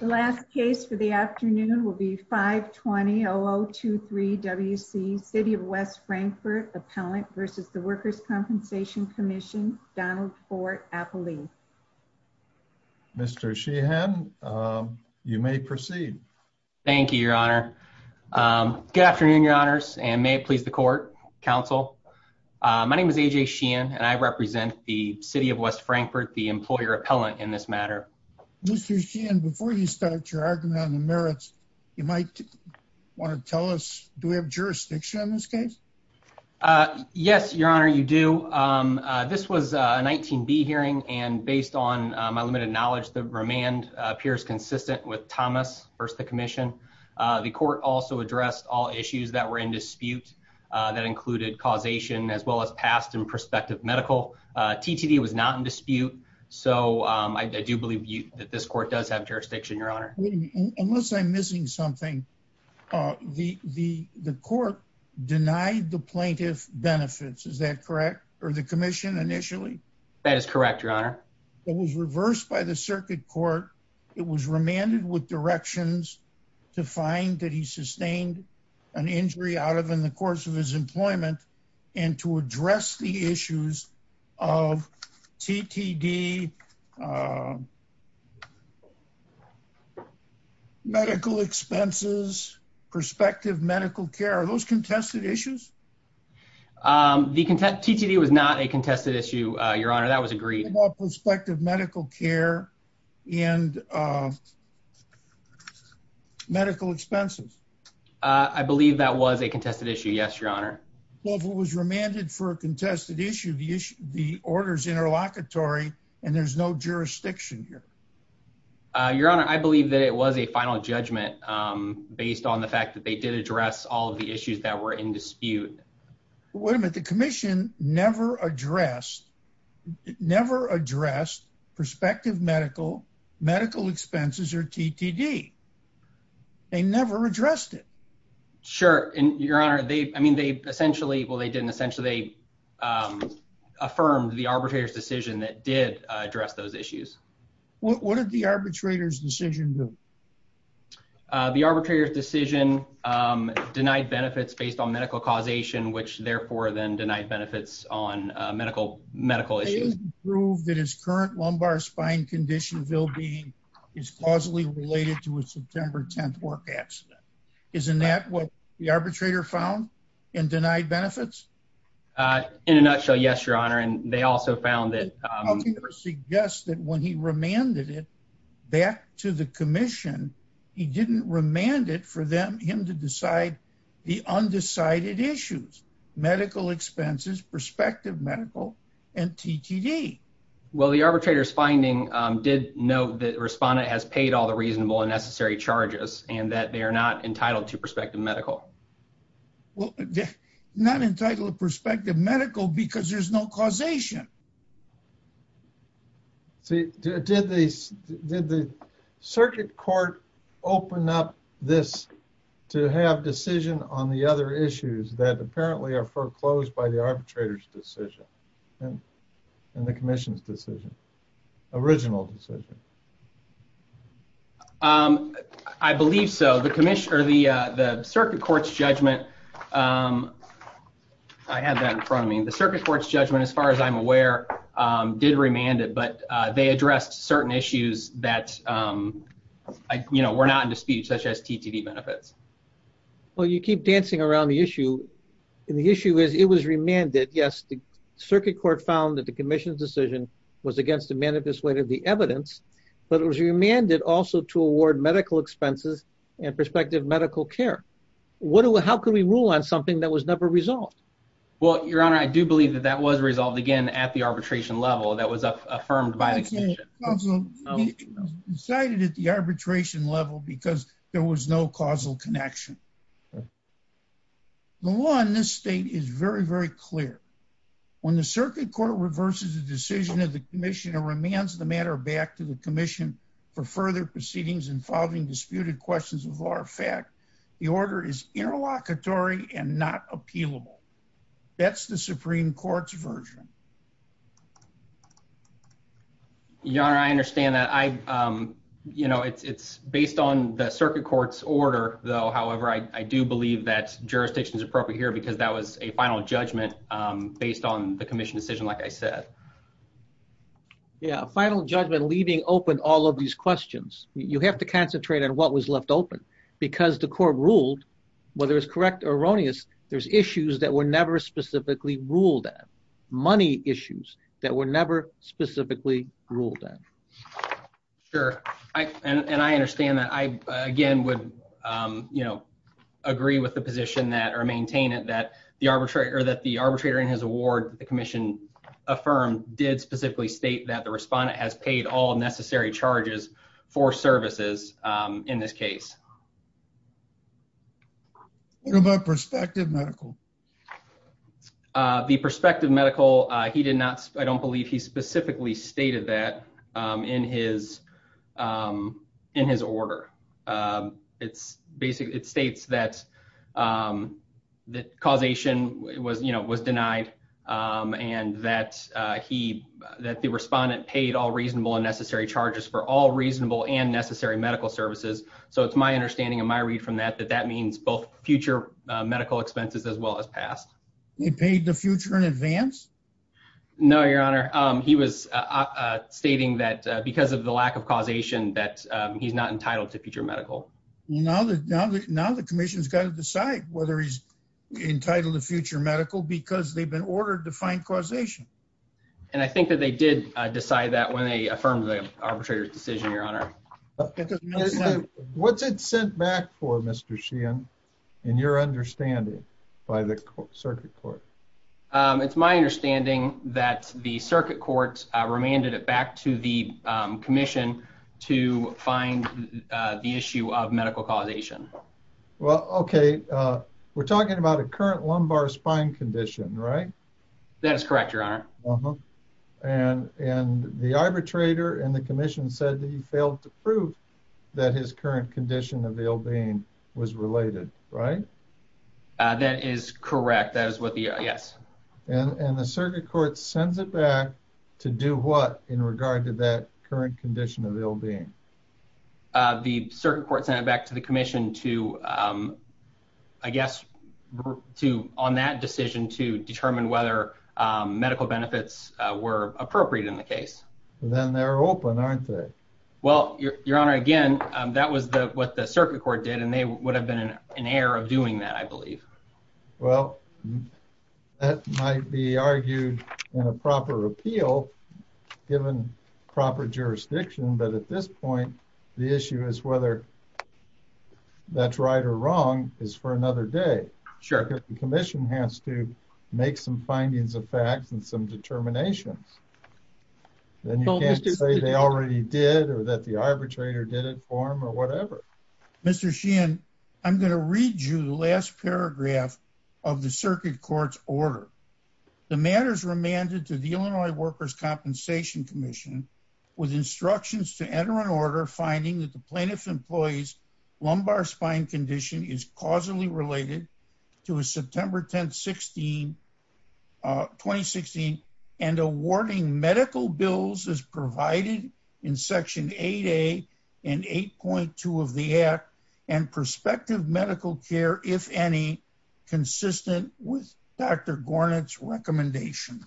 The last case for the afternoon will be 520-0023-WC, City of West Frankfort, Appellant v. The Workers' Compensation Commission, Donald Ford-Appelee. Mr. Sheehan, you may proceed. Thank you, Your Honor. Good afternoon, Your Honors, and may it please the Court, Council. My name is A.J. Sheehan, and I represent the City of West Frankfort, the Employer Appellant, in this matter. Mr. Sheehan, before you start your argument on the merits, you might want to tell us, do we have jurisdiction on this case? Yes, Your Honor, you do. This was a 19B hearing, and based on my limited knowledge, the remand appears consistent with Thomas v. the Commission. The Court also addressed all issues that were in dispute, so I do believe that this Court does have jurisdiction, Your Honor. Unless I'm missing something, the Court denied the plaintiff benefits, is that correct, or the Commission initially? That is correct, Your Honor. It was reversed by the Circuit Court. It was remanded with directions to find that he sustained an injury out of in the course of his employment and to address the issues of TTD, medical expenses, prospective medical care. Are those contested issues? The TTD was not a contested issue, Your Honor. That was agreed. What about prospective medical care and medical expenses? I believe that was a contested issue, yes, Your Honor. Well, if it was remanded for a contested issue, the order's interlocutory, and there's no jurisdiction here. Your Honor, I believe that it was a final judgment based on the fact that they did address all of the issues that were in dispute. Wait a minute. The Commission never addressed prospective medical expenses or TTD. They never addressed it. Sure, Your Honor. I mean, they essentially, well, they didn't. Essentially, they affirmed the arbitrator's decision that did address those issues. What did the arbitrator's decision do? The arbitrator's decision denied benefits based on medical causation, which therefore then denied benefits on medical issues. They didn't prove that his current lumbar spine condition is causally related to a September 10th work accident. Isn't that what the arbitrator found and denied benefits? In a nutshell, yes, Your Honor, and they also found that- he didn't remand it for him to decide the undecided issues, medical expenses, prospective medical, and TTD. Well, the arbitrator's finding did note that Responda has paid all the reasonable and necessary charges and that they are not entitled to prospective medical. Well, not entitled to prospective medical because there's no causation. See, did the circuit court open up this to have decision on the other issues that apparently are foreclosed by the arbitrator's decision and the commission's decision, original decision? I believe so. The circuit court's judgment- I had that in front of me. The circuit court's judgment, as far as I'm aware, did remand it, but they addressed certain issues that were not in dispute, such as TTD benefits. Well, you keep dancing around the issue, and the issue is it was remanded. Yes, the circuit court found that the commission's decision was against the manifest weight of the evidence, but it was remanded also to award medical expenses and prospective medical care. How could we rule on something that was never resolved? Well, your honor, I do believe that that was resolved, again, at the arbitration level that was affirmed by the commission. It was decided at the arbitration level because there was no causal connection. The law in this state is very, very clear. When the circuit court reverses the decision of the commission and remands the matter back to the commission for further proceedings involving disputed questions of law or fact, the order is interlocutory and not appealable. That's the Supreme Court's version. Your honor, I understand that. It's based on the circuit court's order, though, however, I do believe that jurisdiction is appropriate here because that was a final judgment based on the commission decision, like I said. Yeah, a final judgment leaving open all of these questions. You have to concentrate on what was specifically ruled at, money issues that were never specifically ruled at. Sure, and I understand that. I, again, would agree with the position or maintain it that the arbitrator in his award, the commission affirmed, did specifically state that the respondent has paid all necessary charges for services in this case. What about prospective medical? The prospective medical, he did not, I don't believe he specifically stated that in his order. It's basically, it states that causation was denied and that the respondent paid all reasonable and necessary charges for all reasonable and necessary medical services. So, it's my understanding and my read from that, that that means both future medical expenses as well as past. He paid the future in advance? No, your honor. He was stating that because of the lack of causation that he's not entitled to future medical. Now the commission's got to decide whether he's entitled to future medical because they've been ordered to find causation. And I think that they did decide that when they affirmed the arbitrator's decision, your honor. What's it sent back for Mr. Sheehan in your understanding by the circuit court? It's my understanding that the circuit court remanded it back to the commission to find the issue of medical causation. Well, okay. We're talking about a current lumbar spine condition, right? That is correct, your honor. Uh-huh. And the arbitrator and the commission said that he failed to prove that his current condition of ill-being was related, right? That is correct. That is what the, yes. And the circuit court sends it back to do what in regard to that current condition of ill-being? The circuit court sent it back to the commission to, I guess, on that decision to determine whether medical benefits were appropriate in the case. Then they're open, aren't they? Well, your honor, again, that was the what the circuit court did, and they would have been in an air of doing that, I believe. Well, that might be argued in a proper appeal, given proper jurisdiction. But at this point, the issue is whether that's right or wrong is for another day. Sure. The commission has to make some findings of facts and some determinations. Then you can't say they already did or that the arbitrator did it for him or whatever. Mr. Sheehan, I'm going to read you the last paragraph of the circuit court's order. The matter is remanded to the Illinois Workers' Compensation Commission with instructions to enter an order finding that the plaintiff's employee's lumbar spine condition is causally related to a September 10, 2016, and awarding medical bills as provided in Section 8A and 8.2 of the Act and prospective medical care, if any, consistent with Dr. Gornit's recommendation.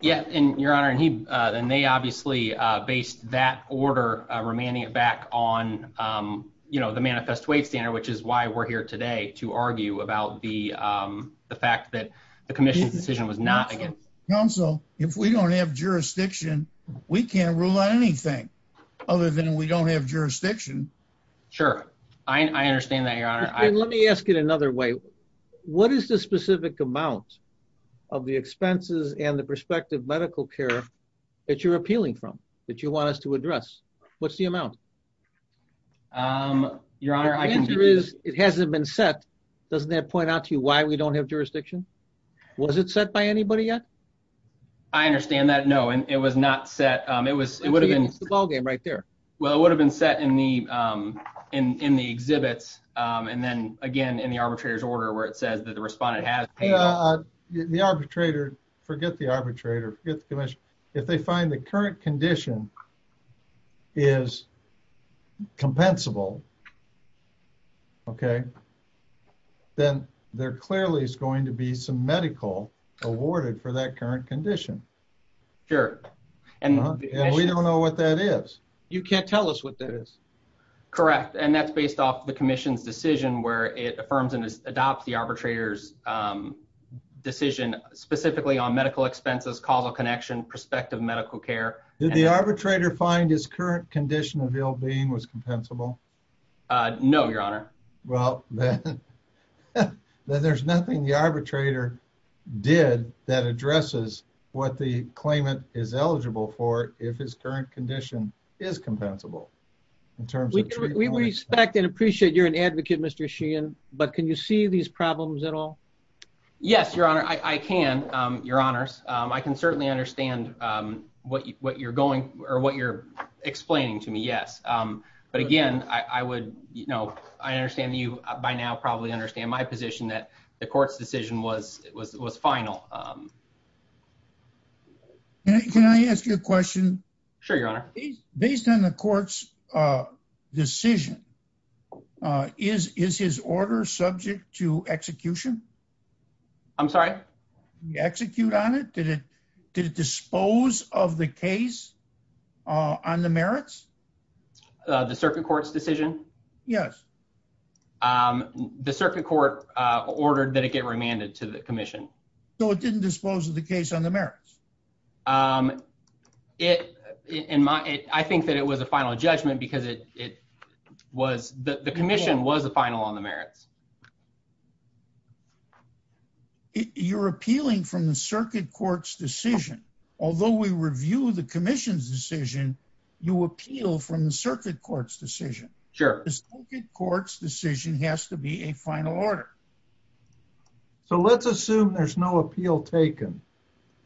Yeah, Your Honor, and they obviously based that order, remanding it back on the Manifest Wage Standard, which is why we're here today to argue about the fact that the commission's decision was not against. Counsel, if we don't have jurisdiction, we can't rule on anything other than we don't have jurisdiction. Sure. I understand that, Your Honor. Let me ask it another way. What is the specific amount of the expenses and the prospective medical care that you're appealing from, that you want us to address? What's the amount? Your Honor, I can do this. It hasn't been set. Doesn't that point out to you why we don't have jurisdiction? Was it set by anybody yet? I understand that. No, it was not set. It would have been... It's the ballgame right there. Well, it would have been set in the exhibits and then, again, in the arbitrator's order where it says that the respondent has... The arbitrator... Forget the arbitrator. Forget the commission. If they find the current condition is compensable, okay, then there clearly is going to be some medical awarded for that current condition. Sure. And we don't know what that is. You can't tell us what that is. Correct. And that's based off the commission's decision where it affirms and adopts the arbitrator's decision specifically on medical expenses, causal connection, prospective medical care. Did the arbitrator find his current condition of ill-being was compensable? No, Your Honor. Well, then there's nothing the arbitrator did that addresses what the claimant is eligible for if his current condition is compensable in terms of treatment. We respect and appreciate you're an advocate, Mr. Sheehan, but can you see these problems at all? Yes, Your Honor, I can, Your Honors. I can certainly understand what you're going or what you're explaining to me, yes. But again, I understand that you by now probably understand my position that the court's decision was final. Can I ask you a question? Sure, Your Honor. Based on the court's decision, is his order subject to execution? I'm sorry? Execute on it? Did it dispose of the case on the merits? The circuit court's decision? The circuit court ordered that it get remanded to the commission. No, it didn't dispose of the case on the merits. I think that it was a final judgment because the commission was the final on the merits. You're appealing from the circuit court's decision. Although we review the commission's decision, you appeal from the circuit court's decision. Sure. The circuit court's decision has to be a final order. So let's assume there's no appeal taken,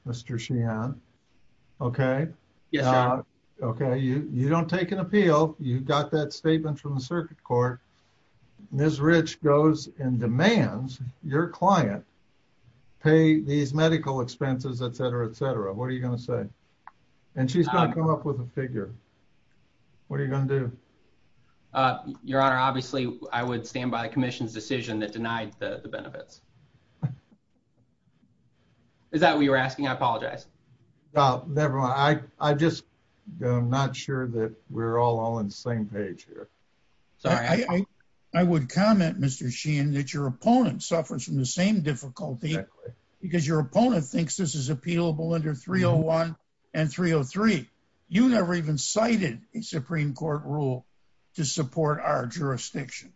Mr. Sheehan, okay? Yes, Your Honor. Okay, you don't take an appeal. You got that statement from the circuit court. Ms. Rich goes and demands your client pay these medical expenses, et cetera, et cetera. What are you going to say? And she's going to come up with a figure. What are you going to do? Your Honor, obviously, I would stand by the commission's decision that denied the benefits. Is that what you're asking? I apologize. No, never mind. I'm just not sure that we're all on the same page here. Sorry. I would comment, Mr. Sheehan, that your opponent suffers from the same difficulty because your opponent thinks this is appealable under 301 and 303. You never even cited a Supreme Court rule to support our jurisdiction.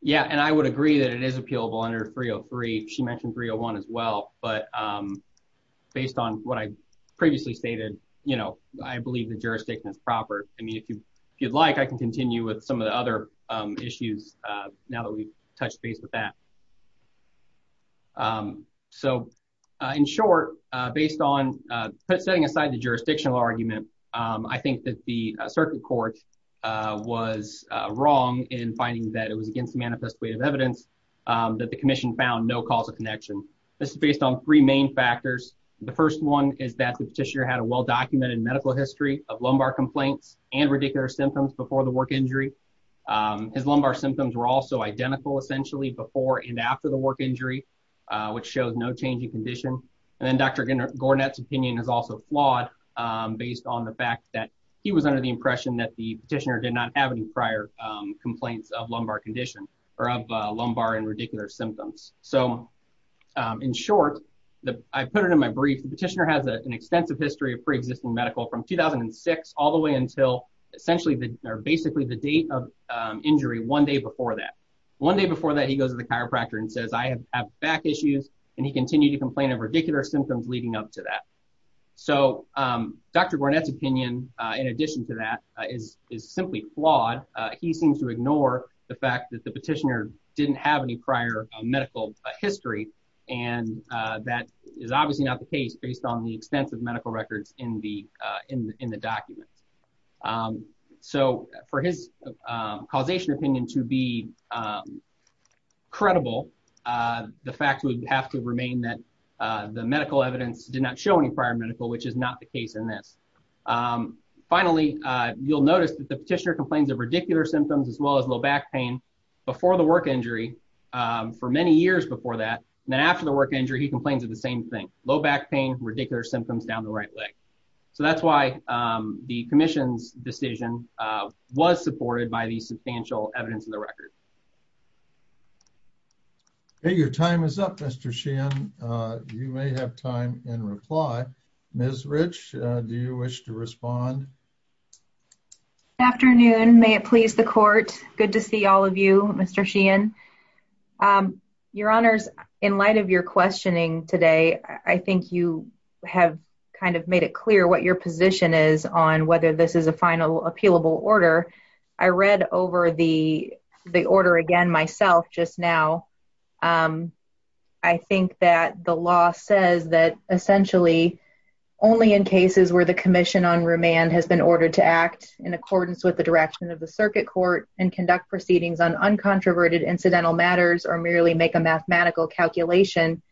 Yeah, and I would agree that it is appealable under 303. She mentioned 301 as well. But based on what I previously stated, I believe the jurisdiction is proper. I mean, if you'd like, I can continue with some of the other issues now that we've touched base with that. So in short, based on setting aside the jurisdictional argument, I think that the wrong in finding that it was against the manifest weight of evidence that the commission found no causal connection. This is based on three main factors. The first one is that the petitioner had a well-documented medical history of lumbar complaints and radicular symptoms before the work injury. His lumbar symptoms were also identical, essentially, before and after the work injury, which shows no change in condition. And then Dr. Gornet's opinion is also flawed based on the fact that he was under the complaints of lumbar condition or of lumbar and radicular symptoms. So in short, I put it in my brief. The petitioner has an extensive history of pre-existing medical from 2006 all the way until essentially basically the date of injury one day before that. One day before that, he goes to the chiropractor and says, I have back issues. And he continued to complain of radicular symptoms leading up to that. So Dr. Gornet's opinion, in addition to that, is simply flawed. He seems to ignore the fact that the petitioner didn't have any prior medical history. And that is obviously not the case based on the extensive medical records in the document. So for his causation opinion to be credible, the fact would have to remain that the medical evidence did not show any prior medical, which is not the case in this. Finally, you'll notice that the petitioner complains of radicular symptoms as well as low back pain before the work injury for many years before that. And then after the work injury, he complains of the same thing, low back pain, radicular symptoms down the right leg. So that's why the commission's decision was supported by the substantial evidence of the record. Hey, your time is up, Mr. Sheehan. You may have time in reply. Ms. Rich, do you wish to respond? Good afternoon. May it please the court. Good to see all of you, Mr. Sheehan. Your honors, in light of your questioning today, I think you have kind of made it clear what your position is on whether this is a final appealable order. I read over the order again myself just now. I think that the law says that essentially only in cases where the commission on remand has been ordered to act in accordance with the direction of the circuit court and conduct proceedings on uncontroverted incidental matters or merely make a mathematical calculation,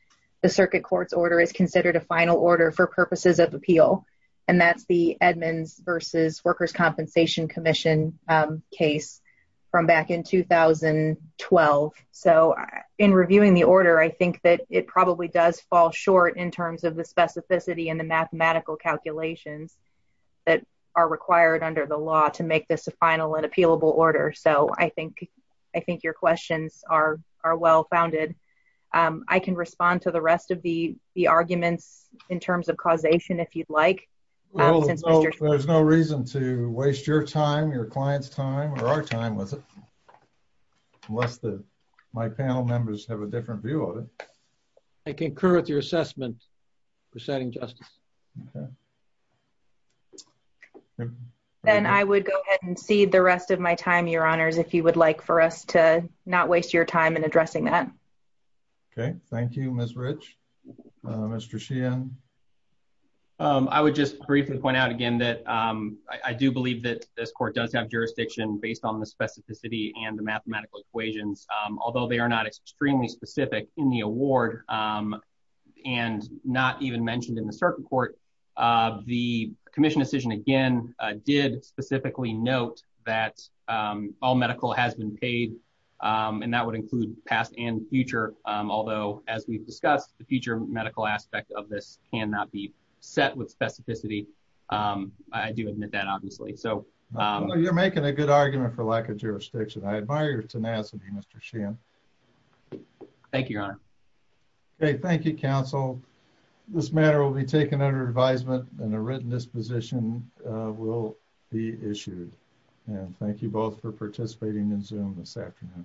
the circuit court's order is considered a final order for purposes of appeal. And that's the Edmonds versus Workers' Compensation Commission case from back in 2012. So in reviewing the order, I think that it probably does fall short in terms of the specificity and the mathematical calculations that are required under the law to make this a final and appealable order. So I think your questions are well-founded. I can respond to the rest of the arguments in terms of causation if you'd like. There's no reason to waste your time, your client's time, or our time, was it? Unless my panel members have a different view of it. I concur with your assessment, Presiding Justice. Then I would go ahead and cede the rest of my time, your honors, if you would like for us to not waste your time in addressing that. Okay, thank you, Ms. Rich. Mr. Sheehan? I would just briefly point out again that I do believe that this court does have jurisdiction based on the specificity and the mathematical equations, although they are not extremely specific in the award, and not even mentioned in the circuit court. The commission decision, again, did specifically note that all medical has been paid, and that would include past and future. Although, as we've discussed, the future medical aspect of this cannot be set with specificity. I do admit that, obviously. You're making a good argument for lack of jurisdiction. I admire your tenacity, Mr. Sheehan. Thank you, your honor. Okay, thank you, counsel. This matter will be taken under advisement, and a written disposition will be issued. Thank you both for participating in Zoom this afternoon.